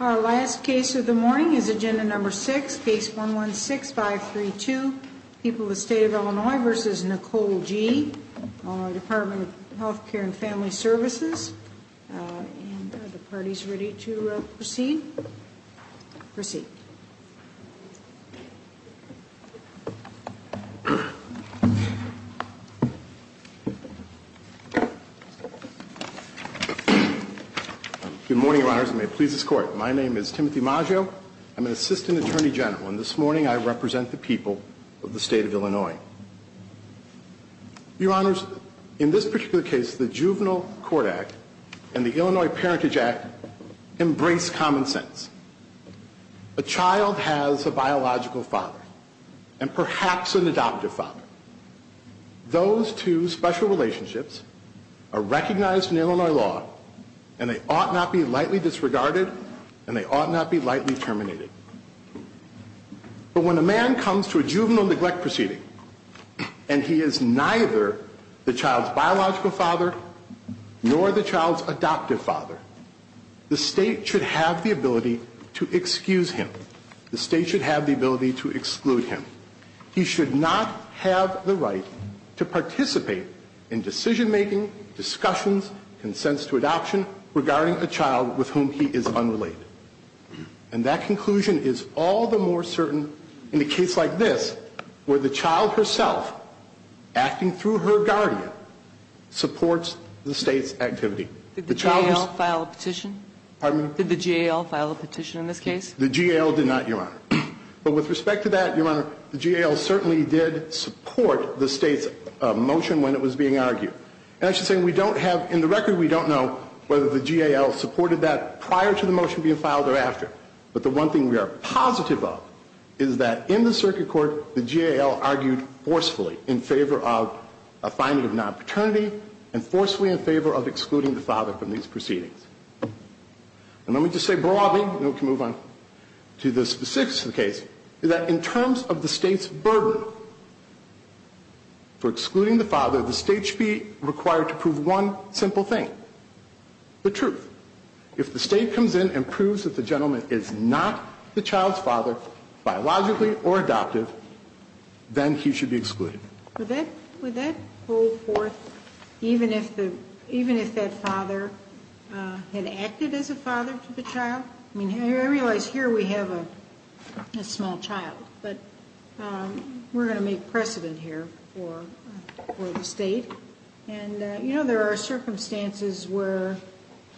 Our last case of the morning is agenda number 6, case 116532, People of the State of Illinois v. Nicole G., Department of Health Care and Family Services. Are the parties ready to proceed? Proceed. Good morning, Your Honors, and may it please this Court. My name is Timothy Maggio. I'm an Assistant Attorney General, and this morning I represent the people of the State of Illinois. Your Honors, in this particular case, the Juvenile Court Act and the Illinois Parentage Act embrace common sense. A child has a biological father, and perhaps an adoptive father. Those two special relationships are recognized in Illinois law, and they ought not be lightly disregarded, and they ought not be lightly terminated. But when a man comes to a juvenile neglect proceeding, and he is neither the child's biological father nor the child's adoptive father, the State should have the ability to excuse him. The State should have the ability to exclude him. He should not have the right to participate in decision-making, discussions, consents to adoption regarding a child with whom he is unrelated. And that conclusion is all the more certain in a case like this, where the child herself, acting through her guardian, supports the State's activity. Did the GAL file a petition? Pardon me? Did the GAL file a petition in this case? The GAL did not, Your Honor. But with respect to that, Your Honor, the GAL certainly did support the State's motion when it was being argued. And I should say, we don't have, in the record, we don't know whether the GAL supported that prior to the motion being filed or after. But the one thing we are positive of is that in the circuit court, the GAL argued forcefully in favor of a finding of non-paternity, and forcefully in favor of excluding the father from these proceedings. And let me just say broadly, and we can move on to the specifics of the case, is that in terms of the State's burden for excluding the father, the State should be required to prove one simple thing, the truth. If the State comes in and proves that the gentleman is not the child's father, biologically or adoptive, then he should be excluded. Would that hold forth even if that father had acted as a father to the child? I mean, I realize here we have a small child, but we're going to make precedent here for the State. And, you know, there are circumstances where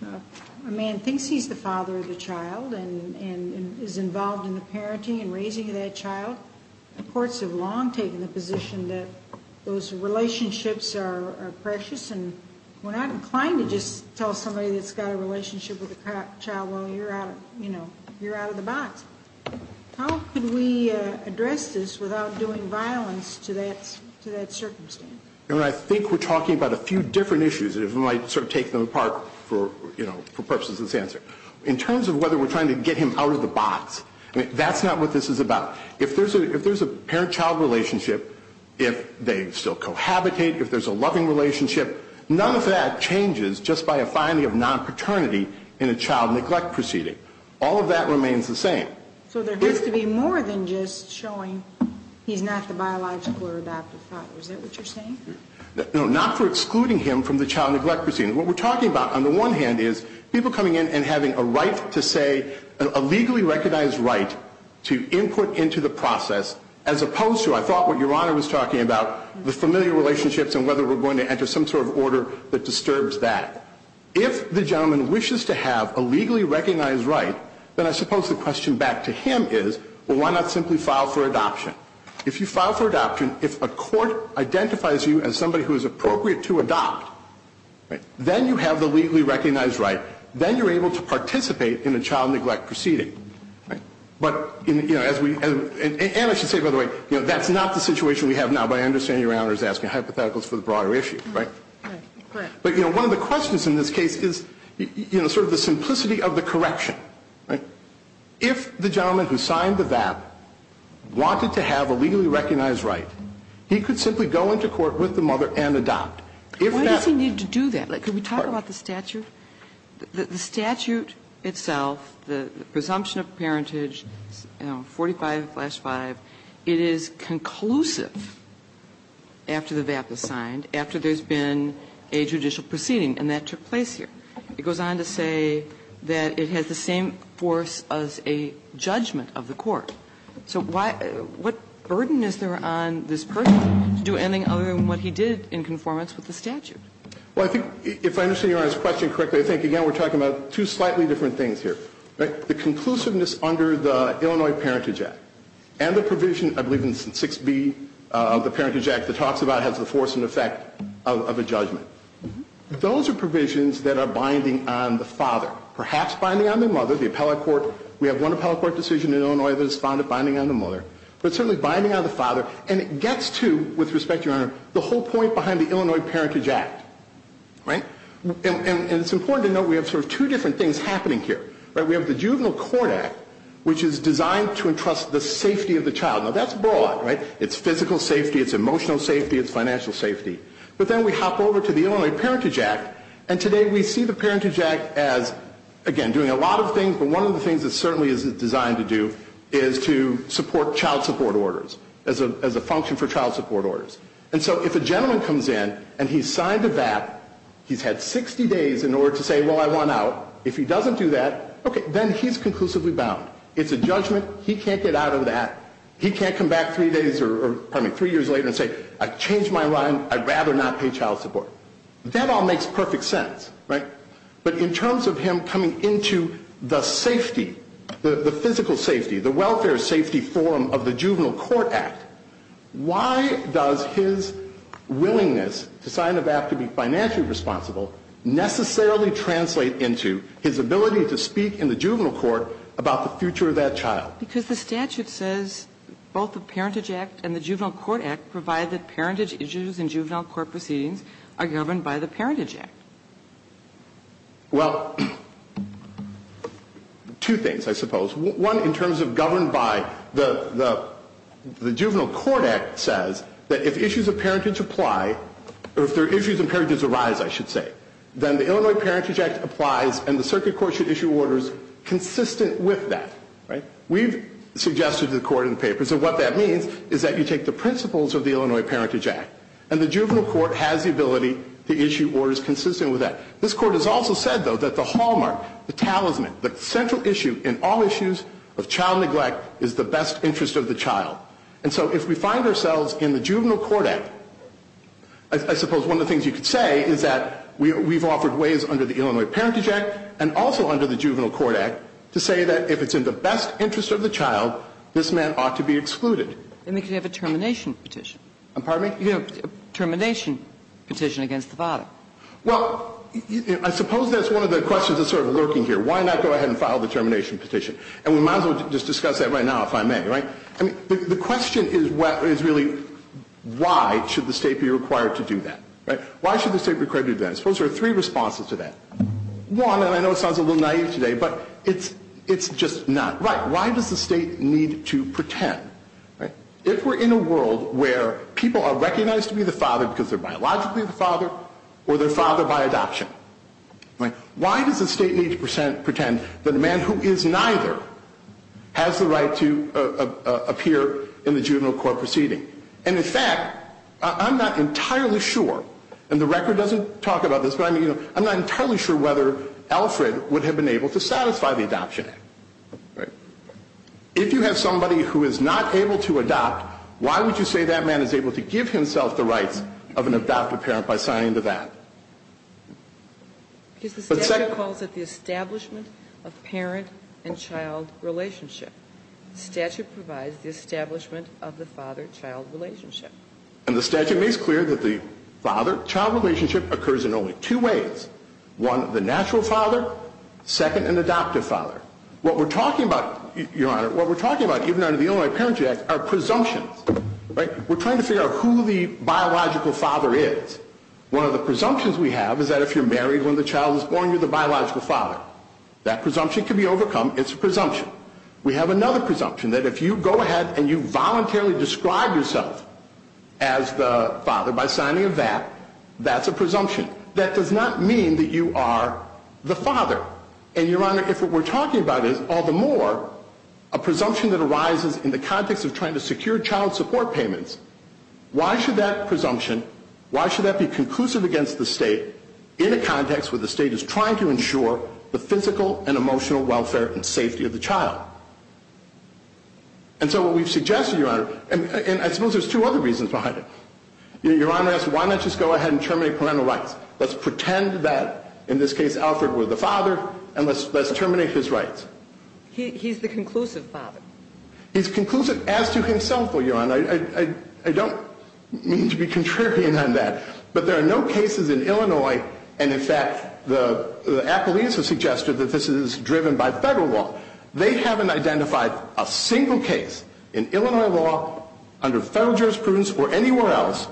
a man thinks he's the father of the child and is involved in the parenting and raising of that child. The courts have long taken the position that those relationships are precious, and we're not inclined to just tell somebody that's got a relationship with a child, well, you're out of the box. How could we address this without doing violence to that circumstance? I think we're talking about a few different issues. It might sort of take them apart for purposes of this answer. In terms of whether we're trying to get him out of the box, that's not what this is about. If there's a parent-child relationship, if they still cohabitate, if there's a loving relationship, none of that changes just by a finding of non-paternity in a child neglect proceeding. All of that remains the same. So there has to be more than just showing he's not the biological or adoptive father. Is that what you're saying? No, not for excluding him from the child neglect proceeding. What we're talking about, on the one hand, is people coming in and having a right to say, a legally recognized right to input into the process, as opposed to, I thought what Your Honor was talking about, the familiar relationships and whether we're going to enter some sort of order that disturbs that. If the gentleman wishes to have a legally recognized right, then I suppose the question back to him is, well, why not simply file for adoption? If you file for adoption, if a court identifies you as somebody who is appropriate to adopt, then you have the legally recognized right. Then you're able to participate in a child neglect proceeding. But, you know, as we – and I should say, by the way, that's not the situation we have now, but I understand Your Honor is asking hypotheticals for the broader issue, right? Right. But, you know, one of the questions in this case is, you know, sort of the simplicity of the correction. If the gentleman who signed the VAP wanted to have a legally recognized right, he could simply go into court with the mother and adopt. Why does he need to do that? Could we talk about the statute? The statute itself, the presumption of parentage 45-5, it is conclusive after the VAP is signed, after there's been a judicial proceeding, and that took place here. It goes on to say that it has the same force as a judgment of the court. So why – what burden is there on this person to do anything other than what he did in conformance with the statute? Well, I think if I understand Your Honor's question correctly, I think, again, we're talking about two slightly different things here, right? The conclusiveness under the Illinois Parentage Act and the provision, I believe, in 6b of the Parentage Act that talks about has the force and effect of a judgment. Those are provisions that are binding on the father, perhaps binding on the mother. We have one appellate court decision in Illinois that is binding on the mother, but certainly binding on the father, and it gets to, with respect, Your Honor, the whole point behind the Illinois Parentage Act, right? And it's important to note we have sort of two different things happening here. We have the Juvenile Court Act, which is designed to entrust the safety of the child. Now, that's broad, right? It's physical safety. It's emotional safety. It's financial safety. But then we hop over to the Illinois Parentage Act, and today we see the Parentage Act as, again, doing a lot of things, but one of the things it certainly is designed to do is to support child support orders as a function for child support orders. And so if a gentleman comes in and he's signed a VAP, he's had 60 days in order to say, well, I want out. If he doesn't do that, okay, then he's conclusively bound. It's a judgment. He can't get out of that. He can't come back three days or, pardon me, three years later and say, I've changed my mind. I'd rather not pay child support. That all makes perfect sense, right? But in terms of him coming into the safety, the physical safety, the welfare safety forum of the Juvenile Court Act, why does his willingness to sign a VAP to be financially responsible necessarily translate into his ability to speak in the juvenile court about the future of that child? Because the statute says both the Parentage Act and the Juvenile Court Act provide that parentage issues in juvenile court proceedings are governed by the Parentage Act. Well, two things, I suppose. One, in terms of governed by the Juvenile Court Act says that if issues of parentage apply, or if there are issues of parentage arise, I should say, then the Illinois Parentage Act applies and the circuit court should issue orders consistent with that, right? We've suggested to the Court in the papers that what that means is that you take the principles of the Illinois Parentage Act and the Juvenile Court has the ability to issue orders consistent with that. This Court has also said, though, that the hallmark, the talisman, the central issue in all issues of child neglect is the best interest of the child. And so if we find ourselves in the Juvenile Court Act, I suppose one of the things you could say is that we've offered ways under the Illinois Parentage Act and also under the Juvenile Court Act to say that if it's in the best interest of the child, this man ought to be excluded. And they could have a termination petition. Pardon me? A termination petition against the father. Well, I suppose that's one of the questions that's sort of lurking here. Why not go ahead and file the termination petition? And we might as well just discuss that right now, if I may, right? I mean, the question is really why should the State be required to do that, right? Why should the State be required to do that? I suppose there are three responses to that. One, and I know it sounds a little naive today, but it's just not right. Why does the State need to pretend? If we're in a world where people are recognized to be the father because they're biologically the father or they're father by adoption, why does the State need to pretend that a man who is neither has the right to appear in the juvenile court proceeding? And, in fact, I'm not entirely sure, and the record doesn't talk about this, but I mean, you know, I'm not entirely sure whether Alfred would have been able to satisfy the Adoption Act, right? If you have somebody who is not able to adopt, why would you say that man is able to give himself the rights of an adopted parent by signing into that? But second of all, it's the establishment of parent and child relationship. The statute provides the establishment of the father-child relationship. And the statute makes clear that the father-child relationship occurs in only two ways. One, the natural father. Second, an adoptive father. What we're talking about, Your Honor, what we're talking about even under the Illinois Parenting Act are presumptions, right? We're trying to figure out who the biological father is. One of the presumptions we have is that if you're married when the child is born, you're the biological father. That presumption can be overcome. It's a presumption. We have another presumption, that if you go ahead and you voluntarily describe yourself as the father by signing a VAT, that's a presumption. That does not mean that you are the father. And, Your Honor, if what we're talking about is, all the more, a presumption that arises in the context of trying to secure child support payments, why should that presumption, why should that be conclusive against the state in a context where the state is trying to ensure the physical and emotional welfare and safety of the child? And so what we've suggested, Your Honor, and I suppose there's two other reasons behind it. Your Honor asked, why not just go ahead and terminate parental rights? Let's pretend that, in this case, Alfred were the father, and let's terminate his rights. He's the conclusive father. He's conclusive as to himself, Your Honor. I don't mean to be contrarian on that. But there are no cases in Illinois, and, in fact, the appellees have suggested that this is driven by federal law. They haven't identified a single case in Illinois law under federal jurisprudence or anywhere else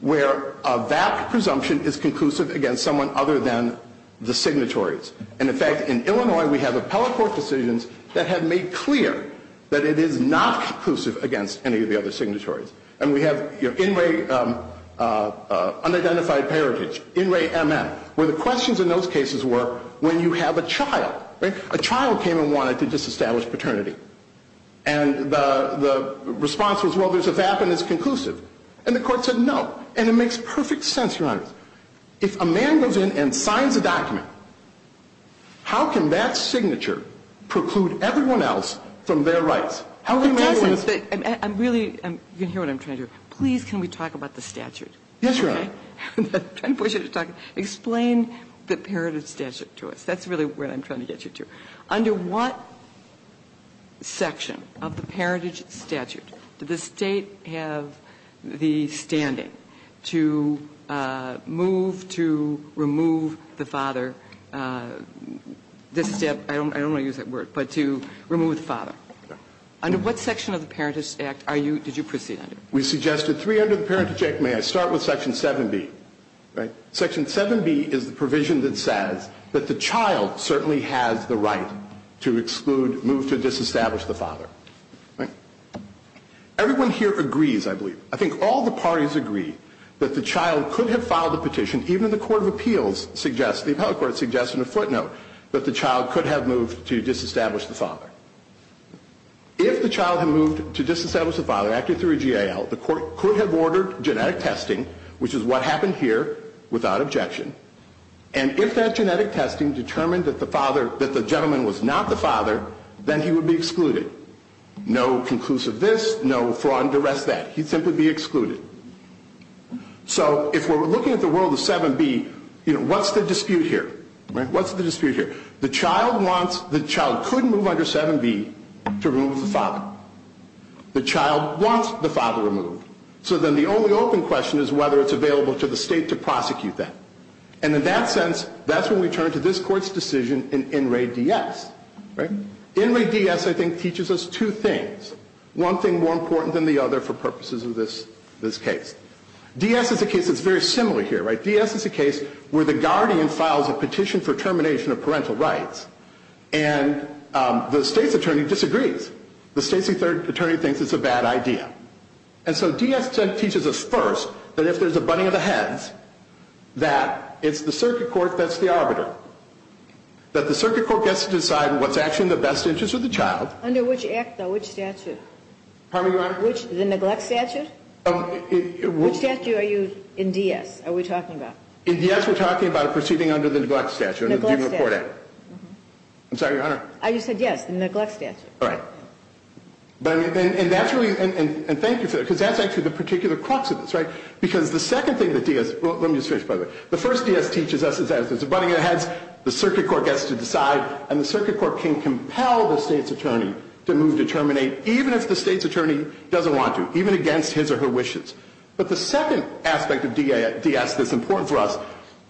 where a VAT presumption is conclusive against someone other than the signatories. And, in fact, in Illinois, we have appellate court decisions that have made clear that it is not conclusive against any of the other signatories. And we have in-ray unidentified parentage, in-ray MN, where the questions in those cases were when you have a child. A child came and wanted to disestablish paternity. And the response was, well, there's a VAT and it's conclusive. And the court said no, and it makes perfect sense, Your Honor. If a man goes in and signs a document, how can that signature preclude everyone else from their rights? How can we do this? And really, you can hear what I'm trying to do. Please, can we talk about the statute? Yes, Your Honor. Explain the parentage statute to us. That's really what I'm trying to get you to. Under what section of the parentage statute did the State have the standing to move to remove the father? I don't want to use that word, but to remove the father. Under what section of the parentage act are you, did you proceed under? We suggested three under the parentage act. May I start with section 7B? Right? Section 7B is the provision that says that the child certainly has the right to exclude, move to disestablish the father. Right? Everyone here agrees, I believe. I think all the parties agree that the child could have filed a petition, even the court of appeals suggests, the appellate court suggests in a footnote, that the child could have moved to disestablish the father. If the child had moved to disestablish the father, acted through a GAL, the court could have ordered genetic testing, which is what happened here, without objection. And if that genetic testing determined that the gentleman was not the father, then he would be excluded. No conclusive this, no fraud and duress that. He'd simply be excluded. So if we're looking at the world of 7B, what's the dispute here? Right? What's the dispute here? The child wants, the child could move under 7B to remove the father. The child wants the father removed. So then the only open question is whether it's available to the state to prosecute that. And in that sense, that's when we turn to this Court's decision in In Re D.S. Right? In Re D.S. I think teaches us two things. One thing more important than the other for purposes of this case. D.S. is a case that's very similar here. Right? D.S. is a case where the guardian files a petition for termination of parental rights, and the state's attorney disagrees. The state's attorney thinks it's a bad idea. And so D.S. teaches us first that if there's a bunting of the heads, that it's the circuit court that's the arbiter. That the circuit court gets to decide what's actually in the best interest of the child. Under which statute? Pardon me, Your Honor? The neglect statute? Which statute are you in D.S.? Are we talking about? In D.S. we're talking about it proceeding under the neglect statute. Neglect statute. I'm sorry, Your Honor? You said yes, the neglect statute. All right. And thank you for that. Because that's actually the particular crux of this. Right? Because the second thing that D.S. Well, let me just finish, by the way. The first D.S. teaches us is that if there's a bunting of the heads, the circuit court gets to decide. And the circuit court can compel the state's attorney to move to terminate, even if the state's attorney doesn't want to. Even against his or her wishes. But the second aspect of D.S. that's important for us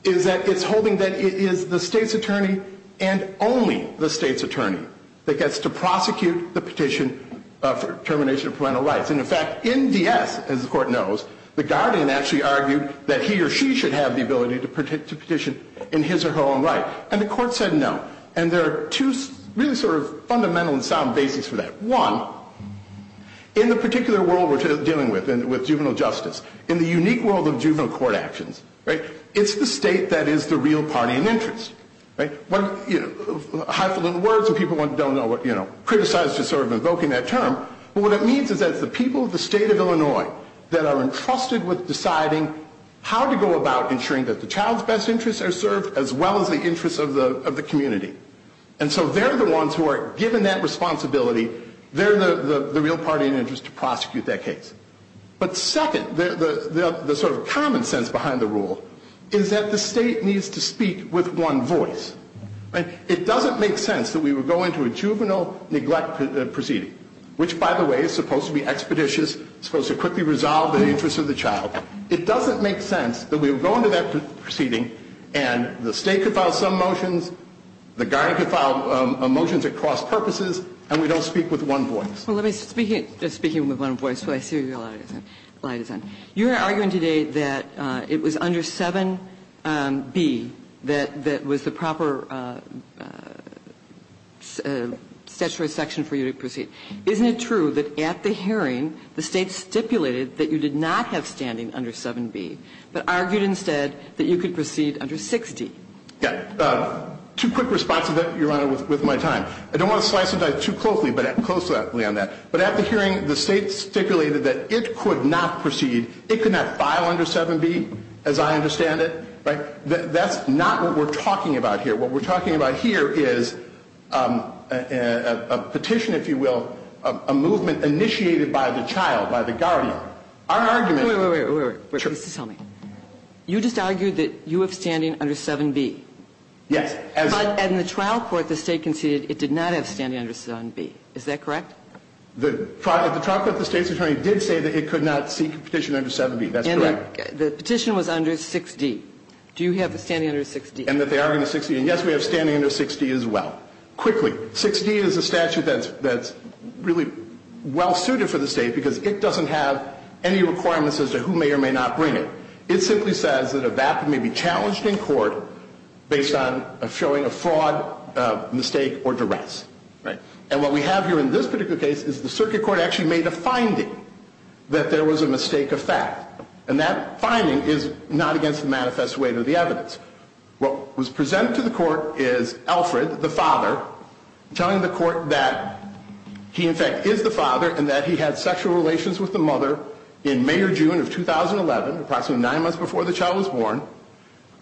is that it's holding that it is the state's attorney and only the state's attorney that gets to prosecute the petition for termination of parental rights. And, in fact, in D.S., as the court knows, the guardian actually argued that he or she should have the ability to petition in his or her own right. And the court said no. And there are two really sort of fundamental and sound basics for that. One, in the particular world we're dealing with, with juvenile justice, in the unique world of juvenile court actions, right, it's the state that is the real party in interest. Right? One, you know, a handful of words and people don't know what, you know, criticize just sort of invoking that term, but what it means is that it's the people of the state of Illinois that are entrusted with deciding how to go about ensuring that the child's best interests are served as well as the interests of the community. And so they're the ones who are given that responsibility. They're the real party in interest to prosecute that case. But second, the sort of common sense behind the rule is that the state needs to speak with one voice. Right? It doesn't make sense that we would go into a juvenile neglect proceeding, which, by the way, is supposed to be expeditious, supposed to quickly resolve the interests of the child. It doesn't make sense that we would go into that proceeding and the state could file some motions, the guy could file motions across purposes, and we don't speak with one voice. Well, let me speak, just speaking with one voice. I see your light is on. You're arguing today that it was under 7B that was the proper statutory section for you to proceed. Isn't it true that at the hearing the state stipulated that you did not have standing under 7B, but argued instead that you could proceed under 60? Yeah. Two quick responses, Your Honor, with my time. I don't want to slice and dice too closely on that, but at the hearing the state stipulated that it could not proceed, it could not file under 7B as I understand it. Right? That's not what we're talking about here. What we're talking about here is a petition, if you will, a movement initiated by the child, by the guardian. Our argument... Wait, wait, wait. Please tell me. You just argued that you have standing under 7B. Yes. But in the trial court the state conceded it did not have standing under 7B. Is that correct? The trial court, the State's attorney did say that it could not seek a petition under 7B. That's correct. And the petition was under 6D. Do you have standing under 6D? And that they are under 6D. And yes, we have standing under 6D as well. Quickly, 6D is a statute that's really well suited for the State because it doesn't have any requirements as to who may or may not bring it. It simply says that a vapid may be challenged in court based on showing a fraud, mistake, or duress. Right. And what we have here in this particular case is the circuit court actually made a finding that there was a mistake of fact. And that finding is not against the manifest weight of the evidence. What was presented to the court is Alfred, the father, telling the court that he in fact is the father and that he had sexual relations with the mother in May or June of 2011, approximately nine months before the child was born.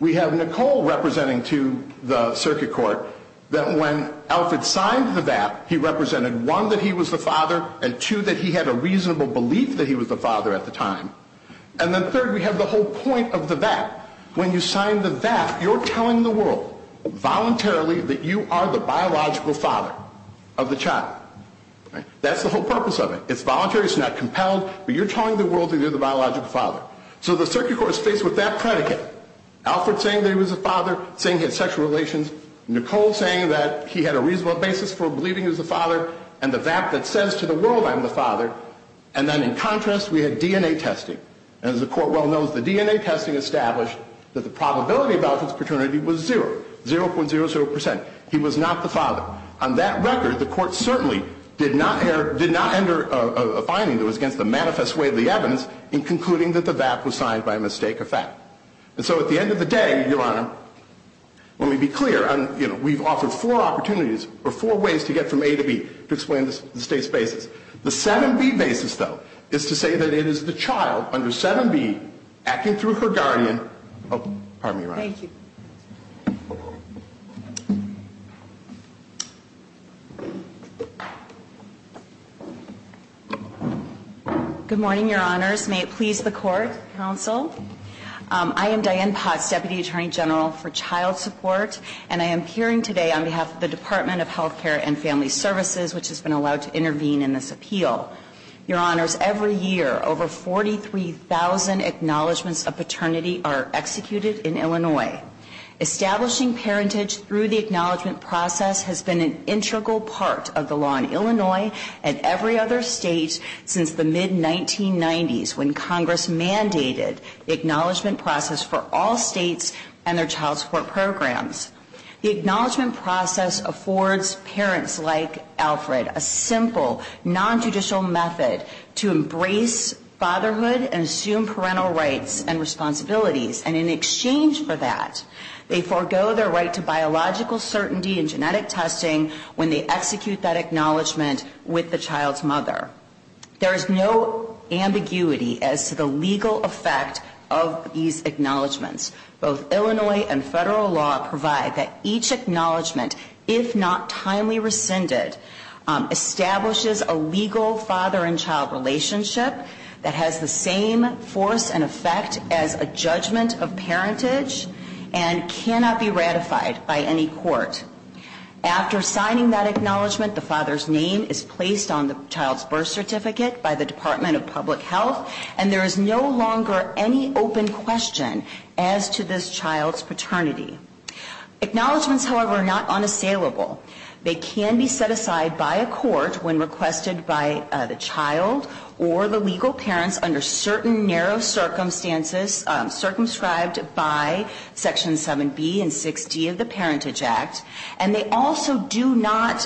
We have Nicole representing to the circuit court that when Alfred signed the VAP, he represented one, that he was the father, and two, that he had a reasonable belief that he was the father at the time. And then third, we have the whole point of the VAP. When you sign the VAP, you're telling the world voluntarily that you are the biological father of the child. Right. That's the whole purpose of it. It's voluntary. It's not compelled. But you're telling the world that you're the biological father. So the circuit court is faced with that predicate, Alfred saying that he was the father, saying he had sexual relations, Nicole saying that he had a reasonable basis for believing he was the father, and the VAP that says to the world I'm the father. And then in contrast, we had DNA testing. And as the court well knows, the DNA testing established that the probability of Alfred's paternity was zero, 0.00%. He was not the father. And so, at the end of the day, Your Honor, let me be clear. We've offered four opportunities, or four ways to get from A to B, to explain the state's basis. The 7B basis, though, is to say that it is the child under 7B acting through her guardian. Pardon me, Your Honor. Thank you. Good morning, Your Honors. May it please the court, counsel. I am Diane Potts, Deputy Attorney General for Child Support, and I am appearing today on behalf of the Department of Health Care and Family Services, which has been allowed to intervene in this appeal. Your Honors, every year, over 43,000 acknowledgments of paternity are executed And this is the first time that the Department of Health Care and Family Establishing parentage through the acknowledgment process has been an integral part of the law in Illinois and every other state since the mid-1990s when Congress mandated the acknowledgment process for all states and their child support programs. The acknowledgment process affords parents like Alfred a simple, non-judicial method to embrace fatherhood and assume parental rights and They forego their right to biological certainty and genetic testing when they execute that acknowledgment with the child's mother. There is no ambiguity as to the legal effect of these acknowledgments. Both Illinois and federal law provide that each acknowledgement, if not timely rescinded, establishes a legal father and child relationship that has the same force and effect as a judgment of parentage and cannot be ratified by any court. After signing that acknowledgment, the father's name is placed on the child's birth certificate by the Department of Public Health and there is no longer any open question as to this child's paternity. Acknowledgments, however, are not unassailable. They can be set aside by a court when requested by the child or the legal parents under certain narrow circumstances circumscribed by Section 7B and 6D of the Parentage Act. And they also do not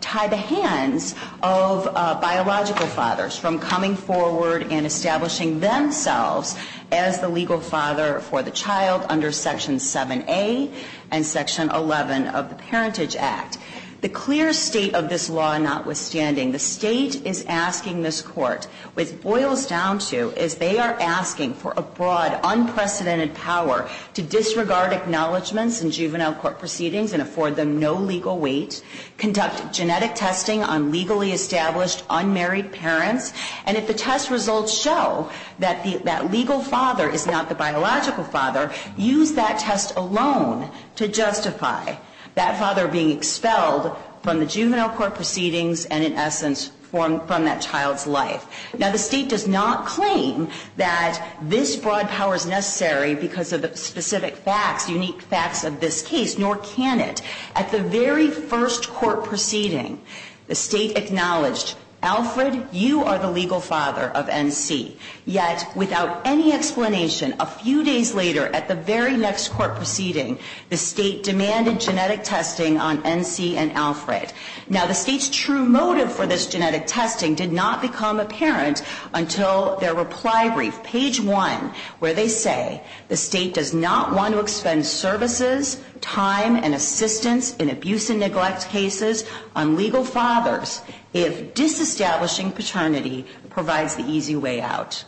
tie the hands of biological fathers from coming forward and establishing themselves as the legal father for the child under Section 7A and Section 11 of the Parentage Act. The clear state of this law notwithstanding, the state is asking this court what it boils down to is they are asking for a broad, unprecedented power to disregard acknowledgments in juvenile court proceedings and afford them no legal weight, conduct genetic testing on legally established, unmarried parents, and if the test results show that that legal father is not the biological father, use that test alone to justify that father being expelled from the juvenile court proceedings and, in essence, from that child's life. Now, the state does not claim that this broad power is necessary because of the specific facts, unique facts of this case, nor can it. At the very first court proceeding, the state acknowledged, Alfred, you are the legal father of NC. Yet, without any explanation, a few days later at the very next court proceeding, the state demanded genetic testing on NC and Alfred. Now, the state's true motive for this genetic testing did not become apparent until their reply brief, page 1, where they say the state does not want to expend services, time, and assistance in abuse and neglect cases on legal fathers if disestablishing paternity provides the easy way out.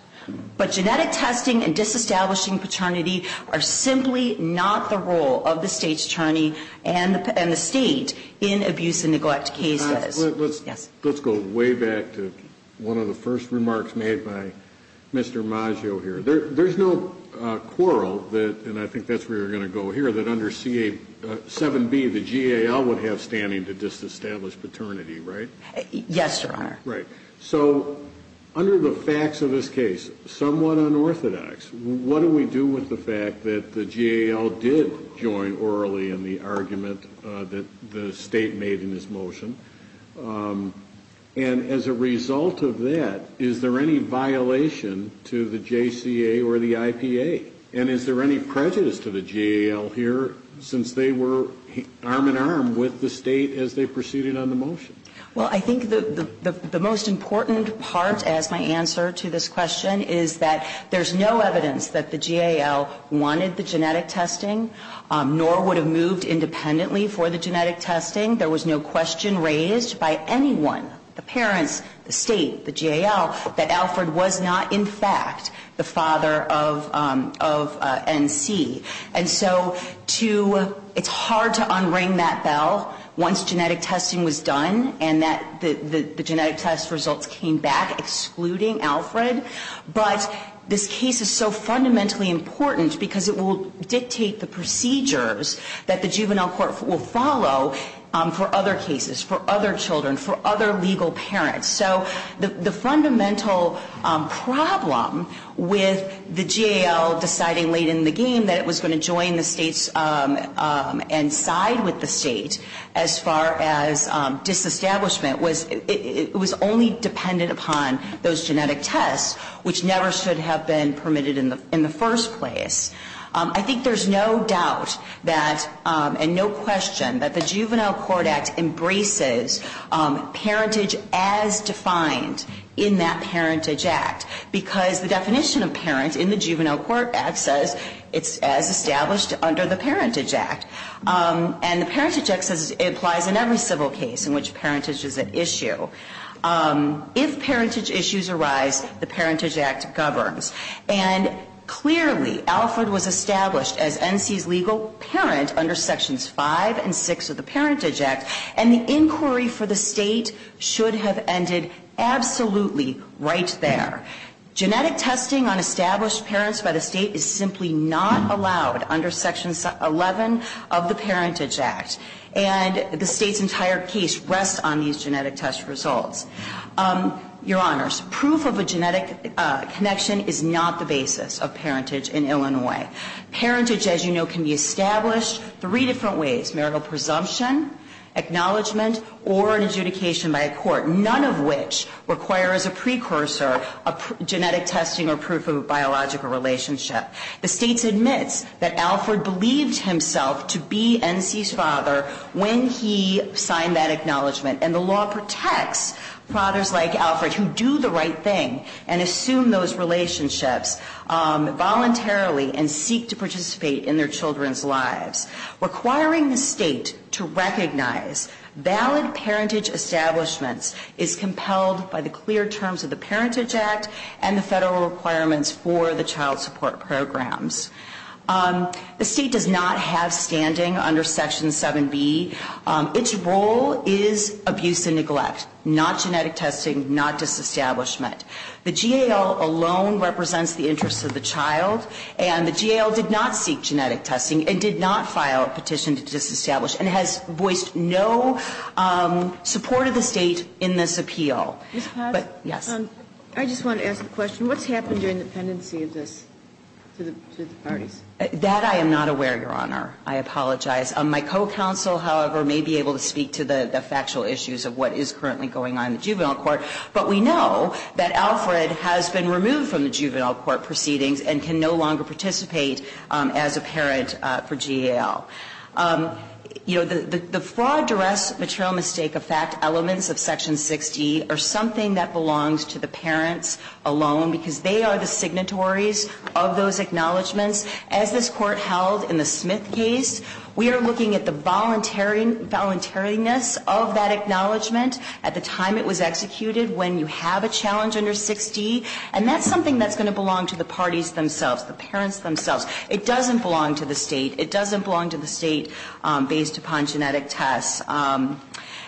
But genetic testing and disestablishing paternity are simply not the role of the state's attorney and the state in abuse and neglect cases. Let's go way back to one of the first remarks made by Mr. Maggio here. There's no quarrel, and I think that's where we're going to go here, that under 7B, the GAL would have standing to disestablish paternity, right? Yes, Your Honor. Right. So under the facts of this case, somewhat unorthodox, what do we do with the fact that the GAL did join orally in the argument that the state made in this motion? And as a result of that, is there any violation to the JCA or the IPA? And is there any prejudice to the GAL here since they were arm-in-arm with the state as they proceeded on the motion? Well, I think the most important part, as my answer to this question, is that there's no evidence that the GAL wanted the genetic testing nor would have moved independently for the genetic testing. There was no question raised by anyone, the parents, the state, the GAL, that Alfred was not, in fact, the father of NC. And so it's hard to unring that bell once genetic testing was done and that the genetic test results came back excluding Alfred. But this case is so fundamentally important because it will dictate the procedures that the juvenile court will follow for other cases, for other children, for other legal parents. So the fundamental problem with the GAL deciding late in the game that it was going to join the states and side with the state as far as disestablishment was it was only dependent upon those genetic tests, which never should have been permitted in the first place. I think there's no doubt that, and no question, that the Juvenile Court Act embraces parentage as defined in that parentage act because the definition of parent in the Juvenile Court Act says it's as established under the Parentage Act. And the Parentage Act says it applies in every civil case in which parentage is an issue. If parentage issues arise, the Parentage Act governs. And clearly, Alfred was established as NC's legal parent under Sections 5 and 6 of the Parentage Act, and the inquiry for the state should have ended absolutely right there. Genetic testing on established parents by the state is simply not allowed under Section 11 of the Parentage Act. And the state's entire case rests on these genetic test results. Your Honors, proof of a genetic connection is not the basis of parentage in Illinois. Parentage, as you know, can be established three different ways, marital presumption, acknowledgement, or an adjudication by a court, none of which requires a precursor of genetic testing or proof of a biological relationship. The state admits that Alfred believed himself to be NC's father when he signed that acknowledgement, and the law protects fathers like Alfred who do the right thing and assume those relationships voluntarily and seek to participate in their children's lives. Requiring the state to recognize valid parentage establishments is compelled by the clear terms of the Parentage Act and the federal requirements for the child support programs. The state does not have standing under Section 7B. Its role is abuse and neglect, not genetic testing, not disestablishment. The GAL alone represents the interests of the child, and the GAL did not seek genetic testing and did not file a petition to disestablish and has voiced no support of the state in this appeal. But, yes. I just want to ask a question. What's happened during the pendency of this to the parties? That I am not aware, Your Honor. I apologize. My co-counsel, however, may be able to speak to the factual issues of what is currently going on in the juvenile court, but we know that Alfred has been removed from the juvenile court proceedings and can no longer participate as a parent for GAL. You know, the fraud, duress, material mistake, effect elements of Section 60 are something that belongs to the parents alone because they are the signatories of those acknowledgments. As this Court held in the Smith case, we are looking at the voluntariness of that acknowledgment at the time it was executed when you have a challenge under 6D, and that's something that's going to belong to the parties themselves, the parents themselves. It doesn't belong to the state. It doesn't belong to the state based upon genetic tests.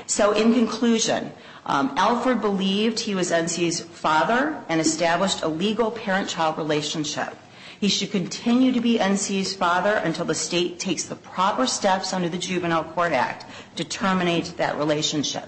So in conclusion, Alfred believed he was NC's father and established a legal parent-child relationship. He should continue to be NC's father until the state takes the proper steps under the Juvenile Court Act to terminate that relationship.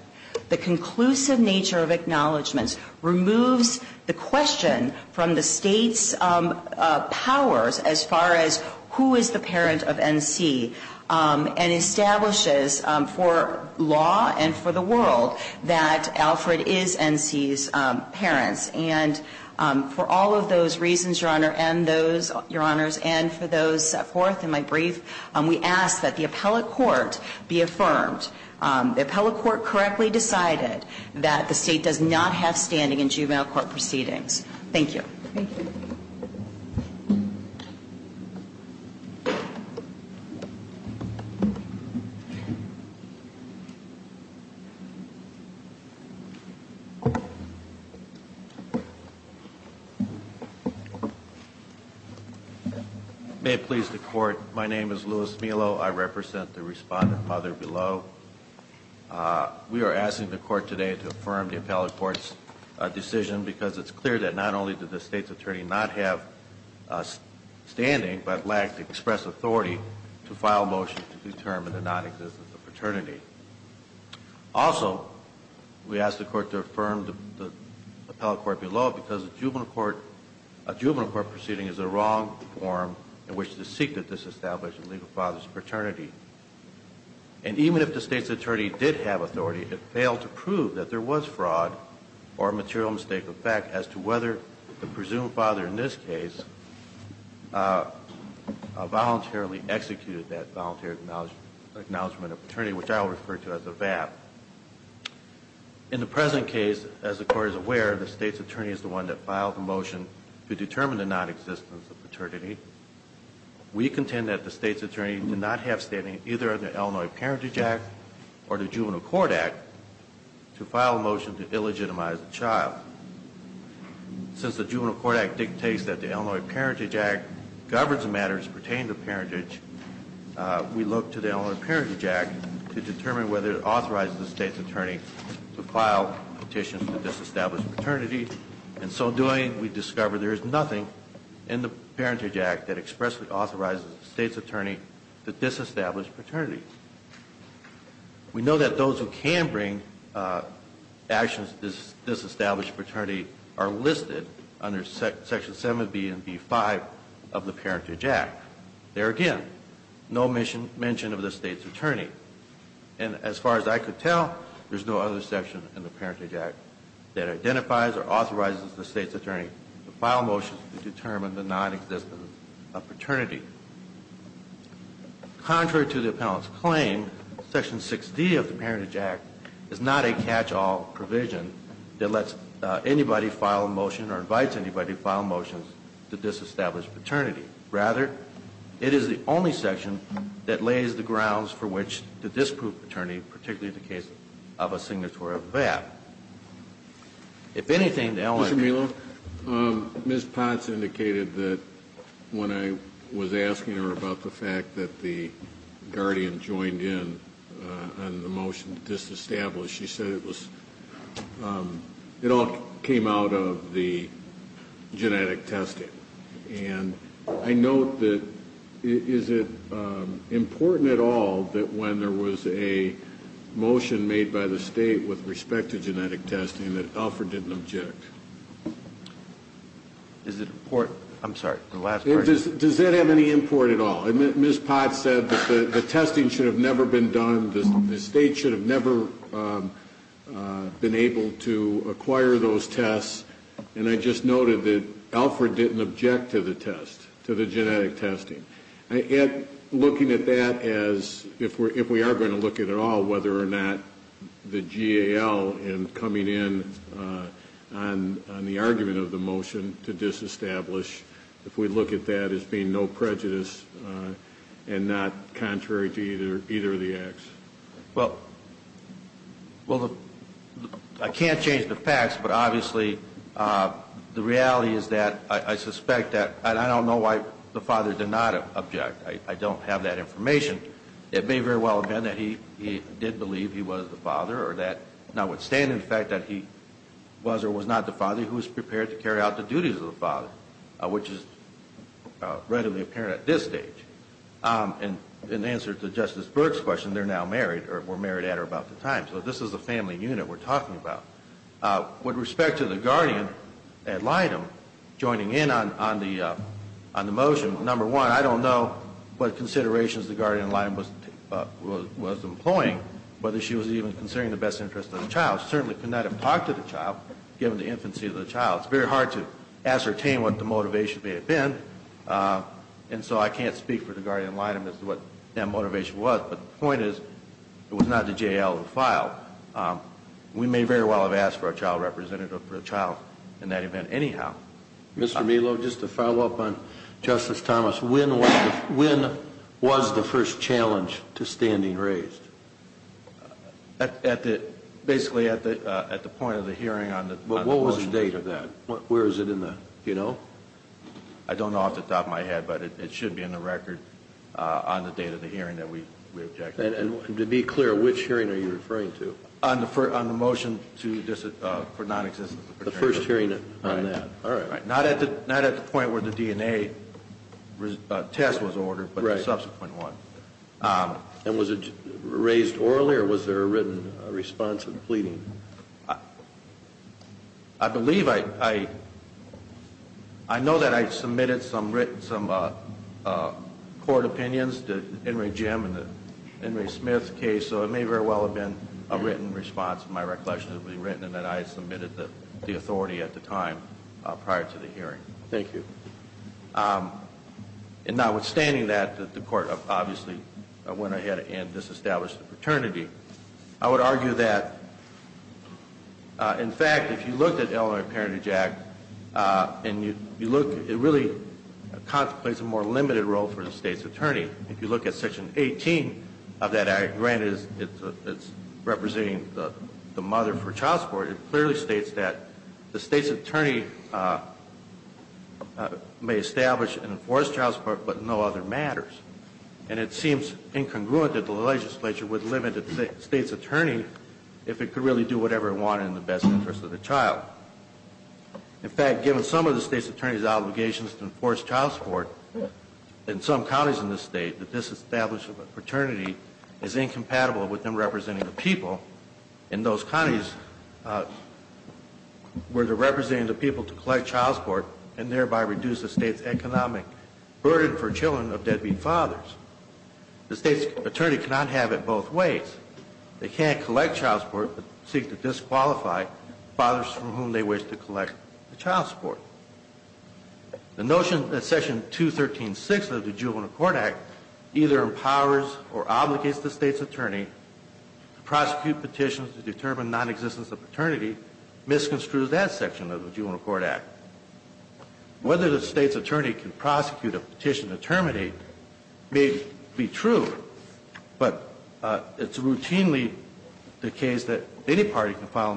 The conclusive nature of acknowledgments removes the question from the state's powers as far as who is the parent of NC and establishes for law and for the world that Alfred is NC's parents. And for all of those reasons, Your Honor, and those, Your Honors, and for those forth in my brief, we ask that the appellate court be affirmed. The appellate court correctly decided that the state does not have standing in juvenile court proceedings. Thank you. Thank you. May it please the Court, my name is Louis Melo. I represent the respondent mother below. We are asking the Court today to affirm the appellate court's decision because it's clear that not only did the state's attorney not have standing but lacked express authority to file a motion to determine the nonexistence of paternity. Also, we ask the Court to affirm the appellate court below because a juvenile court proceeding is the wrong form in which to seek to disestablish a legal father's paternity. And even if the state's attorney did have authority, it failed to prove that there was fraud or a material mistake of fact as to whether the presumed father in this case voluntarily executed that voluntary acknowledgment of paternity, which I will refer to as a VAP. In the present case, as the Court is aware, the state's attorney is the one that filed the motion to determine the nonexistence of paternity. We contend that the state's attorney did not have standing either in the Illinois Parentage Act or the Juvenile Court Act to file a motion to illegitimize the child. Since the Juvenile Court Act dictates that the Illinois Parentage Act governs matters pertaining to parentage, we look to the Illinois Parentage Act to determine whether it authorizes the state's attorney to file petitions to disestablish paternity. In so doing, we discover there is nothing in the Parentage Act that expressly authorizes the state's attorney to disestablish paternity. We know that those who can bring actions to disestablish paternity are listed under Section 7b and b5 of the Parentage Act. There again, no mention of the state's attorney. And as far as I could tell, there is no other section in the Parentage Act that identifies or authorizes the state's attorney to file motions to determine the nonexistence of paternity. Contrary to the appellant's claim, Section 6d of the Parentage Act is not a catch-all provision that lets anybody file a motion or invites anybody to file a motion to disestablish paternity. Rather, it is the only section that lays the grounds for which the disproved attorney, particularly in the case of a signatory of that. If anything, the appellant... Mr. Melo, Ms. Potts indicated that when I was asking her about the fact that the guardian joined in on the motion to disestablish, she said it was, it all came out of the genetic testing. And I note that is it important at all that when there was a motion made by the state with respect to genetic testing that Alfred didn't object? Is it important? I'm sorry, the last part. Does that have any import at all? Ms. Potts said that the testing should have never been done, the state should have never been able to acquire those tests, and I just noted that Alfred didn't object to the test, to the genetic testing. Looking at that as if we are going to look at it all, whether or not the GAL in coming in on the argument of the motion to disestablish, if we look at that as being no prejudice and not contrary to either of the acts. Well, I can't change the facts, but obviously the reality is that I suspect that, and I don't know why the father did not object. I don't have that information. It may very well have been that he did believe he was the father or that notwithstanding the fact that he was or was not the father he was prepared to carry out the duties of the father, which is readily apparent at this stage. In answer to Justice Burke's question, they're now married or were married at or about the time, so this is a family unit we're talking about. With respect to the guardian ad litem, joining in on the motion, number one, I don't know what considerations the guardian ad litem was employing, whether she was even considering the best interest of the child. She certainly could not have talked to the child, given the infancy of the child. It's very hard to ascertain what the motivation may have been, and so I can't speak for the guardian ad litem as to what that motivation was, but the point is it was not the J.L. who filed. We may very well have asked for a child representative for a child in that event anyhow. Mr. Melo, just to follow up on Justice Thomas, when was the first challenge to standing raised? Basically at the point of the hearing on the motion. What was the date of that? Where is it in the, you know? I don't know off the top of my head, but it should be in the record on the date of the hearing that we objected to. And to be clear, which hearing are you referring to? On the motion for nonexistence of paternity. The first hearing on that. All right. Not at the point where the DNA test was ordered, but the subsequent one. I believe I know that I submitted some court opinions to Henry Jim and the Henry Smith case, so it may very well have been a written response to my recollection that it was written and that I submitted the authority at the time prior to the hearing. Thank you. And notwithstanding that, the court obviously went ahead and disestablished the paternity. I would argue that, in fact, if you looked at Illinois Parenthood Act and you look, it really contemplates a more limited role for the state's attorney. If you look at Section 18 of that act, granted it's representing the mother for child support, it clearly states that the state's attorney may establish and enforce child support, but no other matters. And it seems incongruent that the legislature would limit the state's attorney if it could really do whatever it wanted in the best interest of the child. In fact, given some of the state's attorney's obligations to enforce child support, in some counties in the state, the disestablishment of paternity is incompatible with them representing the people. In those counties where they're representing the people to collect child support and thereby reduce the state's economic burden for children of deadbeat fathers, the state's attorney cannot have it both ways. They can't collect child support but seek to disqualify fathers from whom they wish to collect the child support. The notion that Section 213.6 of the Juvenile Court Act either empowers or obligates the state's attorney to prosecute petitions to determine nonexistence of paternity misconstrues that section of the Juvenile Court Act. Whether the state's attorney can prosecute a petition to terminate may be true, but it's routinely the case that any party can file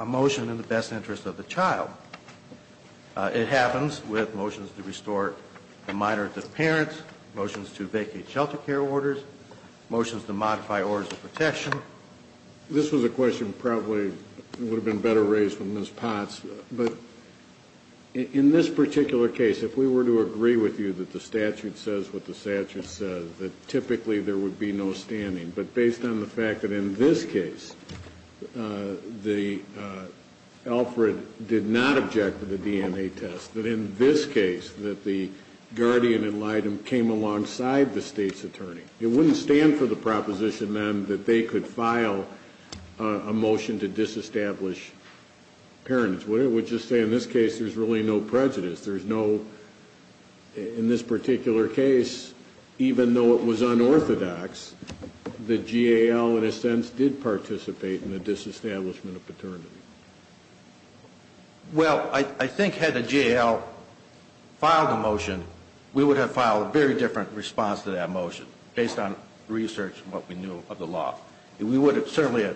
a motion in the best interest of the child. It happens with motions to restore the minors as parents, motions to vacate shelter care orders, motions to modify orders of protection. This was a question that probably would have been better raised with Ms. Potts, but in this particular case, if we were to agree with you that the statute says what the statute says, that typically there would be no standing. But based on the fact that in this case, Alfred did not object to the DNA test, that in this case, that the guardian in light of came alongside the state's attorney, it wouldn't stand for the proposition then that they could file a motion to disestablish parents, would it? Would it just say in this case there's really no prejudice, there's no, in this particular case, even though it was unorthodox, the GAL in a sense did participate in the disestablishment of paternity. Well, I think had the GAL filed a motion, we would have filed a very different response to that motion based on research and what we knew of the law. We would have certainly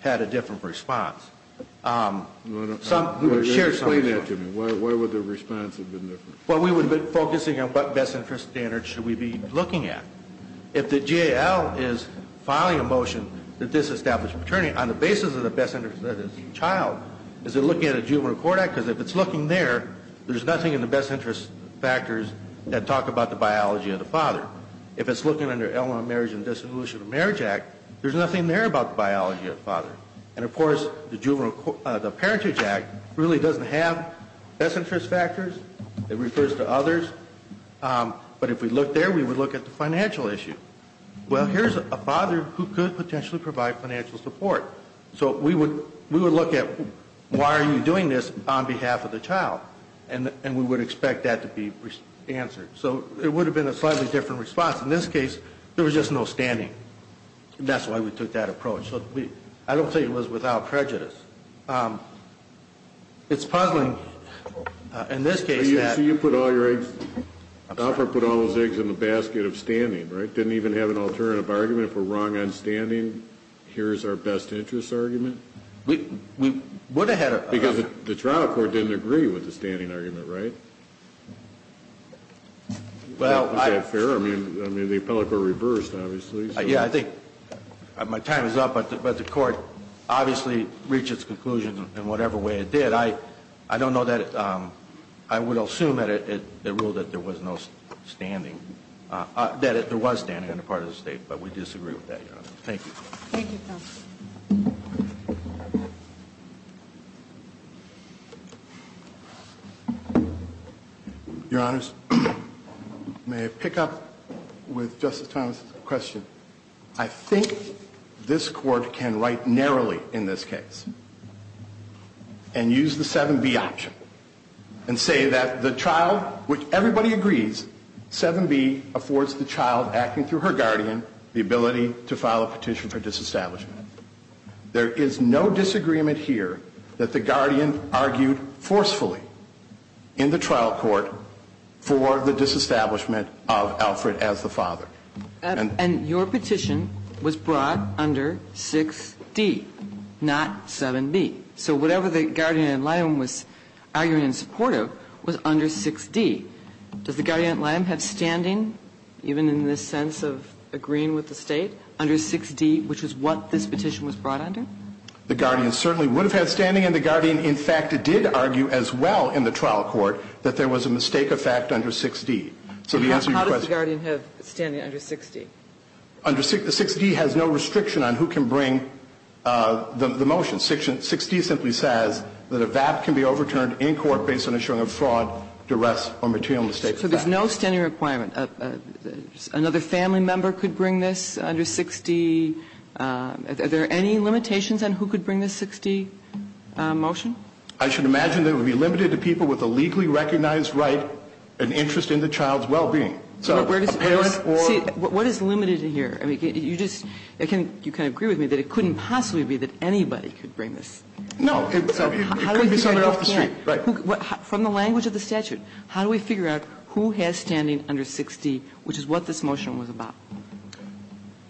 had a different response. Explain that to me. Why would the response have been different? Well, we would have been focusing on what best interest standards should we be looking at. If the GAL is filing a motion to disestablish paternity on the basis of the best interest of the child, is it looking at a juvenile court act? Because if it's looking there, there's nothing in the best interest factors that talk about the biology of the father. If it's looking under Illinois Marriage and Dissolution of Marriage Act, there's nothing there about the biology of the father. And, of course, the Parentage Act really doesn't have best interest factors. It refers to others. But if we look there, we would look at the financial issue. Well, here's a father who could potentially provide financial support. So we would look at why are you doing this on behalf of the child, and we would expect that to be answered. So it would have been a slightly different response. In this case, there was just no standing. That's why we took that approach. So I don't think it was without prejudice. It's puzzling in this case that you put all your eggs. I put all those eggs in the basket of standing, right? Didn't even have an alternative argument. If we're wrong on standing, here's our best interest argument. Because the trial court didn't agree with the standing argument, right? Is that fair? I mean, the appellate court reversed, obviously. Yeah, I think my time is up. But the court obviously reached its conclusion in whatever way it did. I don't know that it – I would assume that it ruled that there was no standing – that there was standing on the part of the State. But we disagree with that, Your Honor. Thank you. Thank you, counsel. Your Honors, may I pick up with Justice Thomas's question? I think this Court can write narrowly in this case and use the 7B option and say that the child – which everybody agrees 7B affords the child, acting through her guardian, the ability to file a petition for disestablishment. There is no disagreement here that the guardian argued forcefully in the trial court for the disestablishment of Alfred as the father. And your petition was brought under 6D, not 7B. So whatever the guardian ad liem was arguing in support of was under 6D. Does the guardian ad liem have standing, even in the sense of agreeing with the State, under 6D, which is what this petition was brought under? The guardian certainly would have had standing, and the guardian, in fact, did argue as well in the trial court that there was a mistake of fact under 6D. So to answer your question – How does the guardian have standing under 6D? Under – 6D has no restriction on who can bring the motion. 6D simply says that a VAP can be overturned in court based on ensuring a fraud, duress, or material mistake of fact. So there's no standing requirement. Another family member could bring this under 6D. Are there any limitations on who could bring the 6D motion? I should imagine that it would be limited to people with a legally recognized right and interest in the child's well-being. So a parent or – See, what is limited here? I mean, you just – you can agree with me that it couldn't possibly be that anybody could bring this. No. It couldn't be someone off the street. Right. So from the language of the statute, how do we figure out who has standing under 6D, which is what this motion was about?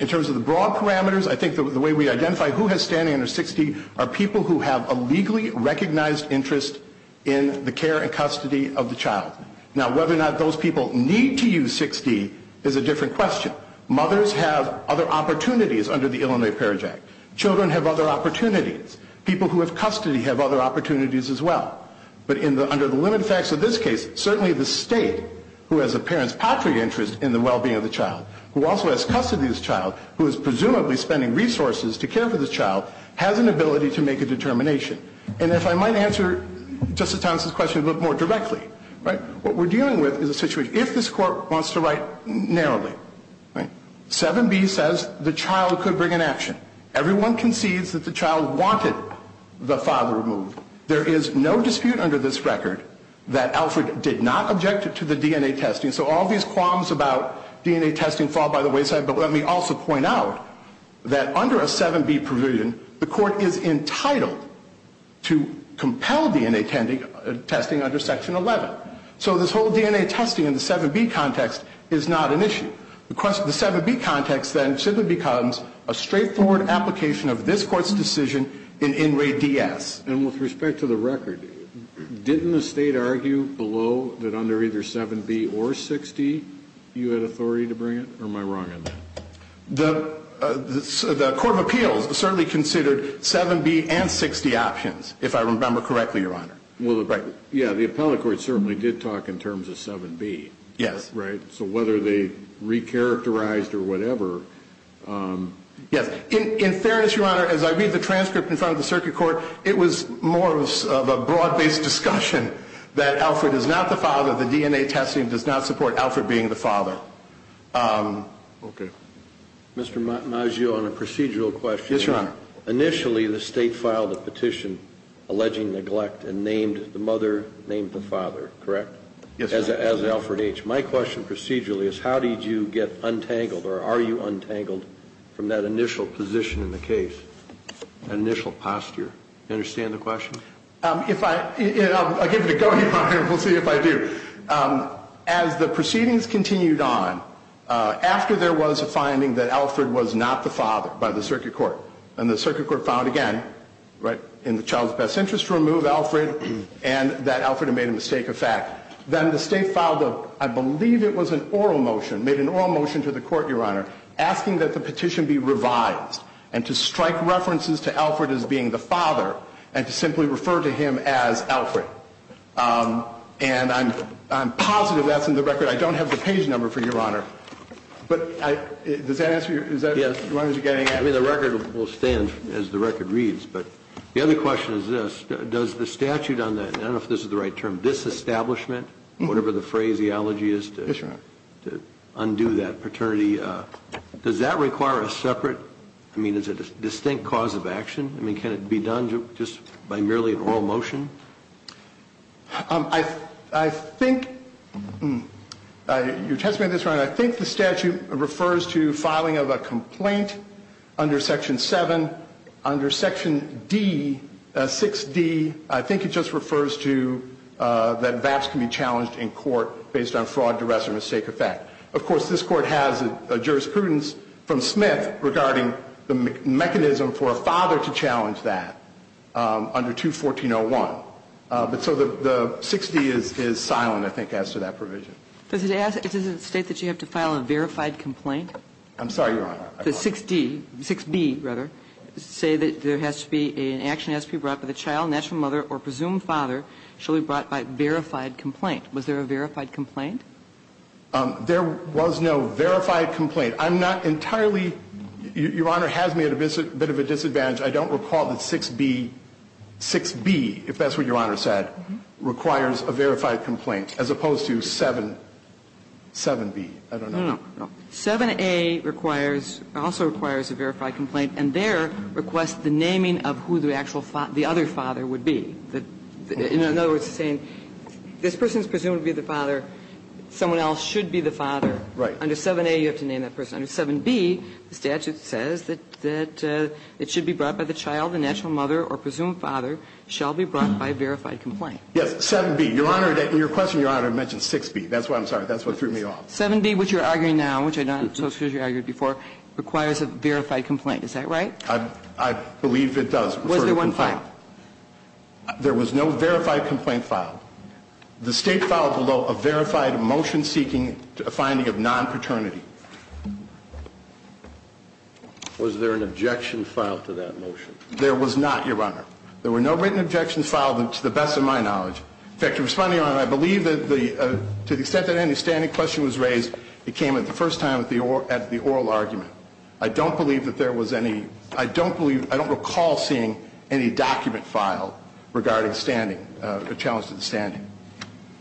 In terms of the broad parameters, I think the way we identify who has standing under 6D are people who have a legally recognized interest in the care and custody of the child. Now, whether or not those people need to use 6D is a different question. Mothers have other opportunities under the Illinois Parents Act. Children have other opportunities. People who have custody have other opportunities as well. But under the limited facts of this case, certainly the state, who has a parent's patria interest in the well-being of the child, who also has custody of this child, who is presumably spending resources to care for this child, has an ability to make a determination. And if I might answer Justice Thomas's question a little bit more directly, what we're dealing with is a situation – if this Court wants to write narrowly, 7B says the child could bring an action. Everyone concedes that the child wanted the father removed. There is no dispute under this record that Alfred did not object to the DNA testing. So all these qualms about DNA testing fall by the wayside. But let me also point out that under a 7B provision, the Court is entitled to compel DNA testing under Section 11. So this whole DNA testing in the 7B context is not an issue. The 7B context then simply becomes a straightforward application of this Court's decision in In Re DS. And with respect to the record, didn't the state argue below that under either 7B or 60 you had authority to bring it, or am I wrong on that? The Court of Appeals certainly considered 7B and 60 options, if I remember correctly, Your Honor. Well, yeah, the appellate court certainly did talk in terms of 7B. Yes. Right? So whether they recharacterized or whatever – Yes. In fairness, Your Honor, as I read the transcript in front of the circuit court, it was more of a broad-based discussion that Alfred is not the father, the DNA testing does not support Alfred being the father. Okay. Mr. Maggio, on a procedural question – Yes, Your Honor. Initially, the state filed a petition alleging neglect and named the mother, named the father, correct? Yes, Your Honor. As Alfred H. My question procedurally is how did you get untangled or are you untangled from that initial position in the case, initial posture? Do you understand the question? If I – I'll give it a go, Your Honor, and we'll see if I do. As the proceedings continued on, after there was a finding that Alfred was not the father by the circuit court, and the circuit court filed again in the child's best interest to remove Alfred and that Alfred had made a mistake of fact, then the state filed a – I believe it was an oral motion, made an oral motion to the court, Your Honor, asking that the petition be revised and to strike references to Alfred as being the father and to simply refer to him as Alfred. And I'm positive that's in the record. I don't have the page number for you, Your Honor. But does that answer your – is that what you're getting at? I mean, the record will stand as the record reads. But the other question is this. Does the statute on that – I don't know if this is the right term – disestablishment, whatever the phraseology is to undo that paternity, does that require a separate – I mean, is it a distinct cause of action? I mean, can it be done just by merely an oral motion? I think – you're testing me on this, Your Honor. I think the statute refers to filing of a complaint under Section 7. Under Section D, 6d, I think it just refers to that VAPs can be challenged in court based on fraud, duress, or mistake of fact. Of course, this Court has a jurisprudence from Smith regarding the mechanism for a father to challenge that under 214.01. But so the 6d is silent, I think, as to that provision. Does it ask – does it state that you have to file a verified complaint? I'm sorry, Your Honor. The 6d – 6b, rather, say that there has to be – an action has to be brought by the child, natural mother, or presumed father. It should be brought by verified complaint. Was there a verified complaint? There was no verified complaint. I'm not entirely – Your Honor has me at a bit of a disadvantage. I don't recall that 6b – 6b, if that's what Your Honor said, requires a verified complaint, as opposed to 7b. I don't know. 7a requires – also requires a verified complaint, and there requests the naming of who the actual – the other father would be. In other words, saying this person is presumed to be the father. Someone else should be the father. Right. Under 7a, you have to name that person. Under 7b, the statute says that it should be brought by the child, the natural mother, or presumed father, shall be brought by verified complaint. Yes, 7b. Your Honor, in your question, Your Honor mentioned 6b. That's why I'm sorry. That's what threw me off. 7b, which you're arguing now, which I don't suppose you argued before, requires a verified complaint. Is that right? I believe it does. Was there one filed? There was no verified complaint filed. The State filed below a verified motion seeking a finding of non-paternity. Was there an objection filed to that motion? There was not, Your Honor. There were no written objections filed to the best of my knowledge. In fact, Your Honor, I believe that to the extent that any standing question was raised, it came at the first time at the oral argument. I don't believe that there was any. I don't recall seeing any document filed regarding standing, a challenge to the standing.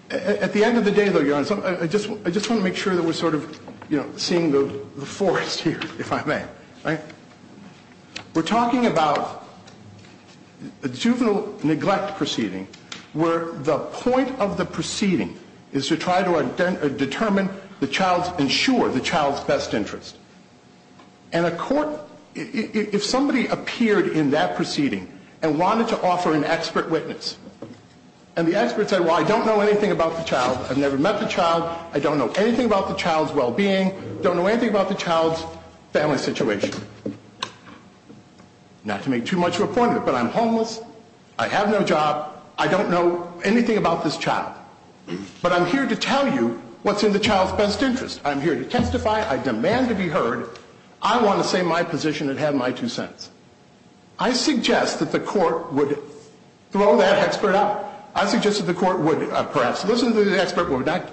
At the end of the day, though, Your Honor, I just want to make sure that we're sort of seeing the forest here, if I may. Right. We're talking about a juvenile neglect proceeding where the point of the proceeding is to try to determine the child's, ensure the child's best interest. And a court, if somebody appeared in that proceeding and wanted to offer an expert witness, and the expert said, well, I don't know anything about the child, I've never met the child, I don't know anything about the child's well-being, don't know anything about the child's family situation. Not to make too much of a point of it, but I'm homeless, I have no job, I don't know anything about this child. But I'm here to tell you what's in the child's best interest. I'm here to testify. I demand to be heard. I want to say my position and have my two cents. I suggest that the court would throw that expert out. I suggest that the court would perhaps listen to the expert but would not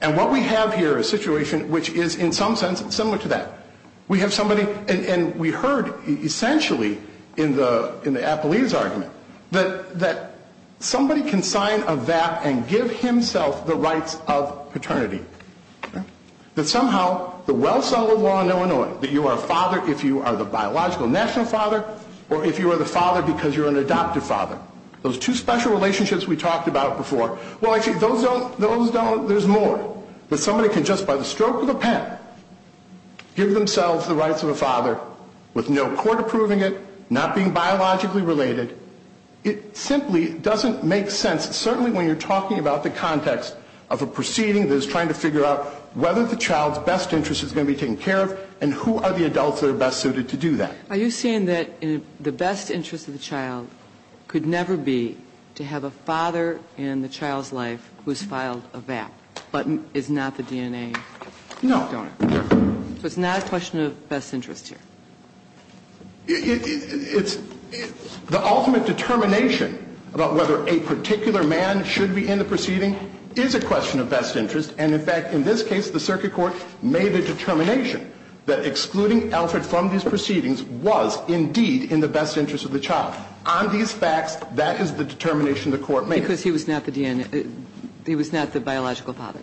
And what we have here is a situation which is, in some sense, similar to that. We have somebody, and we heard essentially in the Apollina's argument, that somebody can sign a VAP and give himself the rights of paternity. That somehow, the well-sounded law in Illinois, that you are a father if you are the biological national father, or if you are the father because you're an adoptive father. Those two special relationships we talked about before. Well, actually, there's more. That somebody can just, by the stroke of a pen, give themselves the rights of a father with no court approving it, not being biologically related. It simply doesn't make sense, certainly when you're talking about the context of a proceeding that is trying to figure out whether the child's best interest is going to be taken care of and who are the adults that are best suited to do that. Are you saying that the best interest of the child could never be to have a child's life who has filed a VAP, but is not the DNA? No. So it's not a question of best interest here? It's the ultimate determination about whether a particular man should be in the proceeding is a question of best interest. And in fact, in this case, the circuit court made a determination that excluding Alfred from these proceedings was indeed in the best interest of the child. On these facts, that is the determination the court made. Because he was not the DNA. He was not the biological father.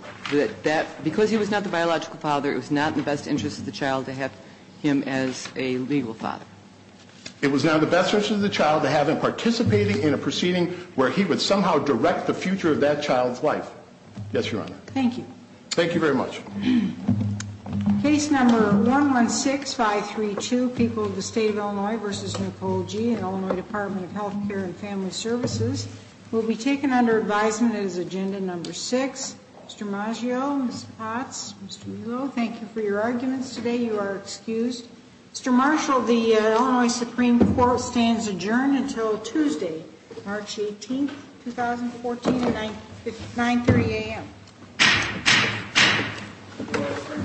Because he was not the biological father, it was not in the best interest of the child to have him as a legal father. It was not in the best interest of the child to have him participating in a proceeding where he would somehow direct the future of that child's life. Yes, Your Honor. Thank you. Thank you very much. Case number 116532, People of the State of Illinois v. Nicole Gee, Illinois Department of Health Care and Family Services. Will be taken under advisement as agenda number six. Mr. Maggio, Ms. Potts, Mr. Mulo, thank you for your arguments today. You are excused. Mr. Marshall, the Illinois Supreme Court stands adjourned until Tuesday, March 18, 2014, at 9.30 a.m.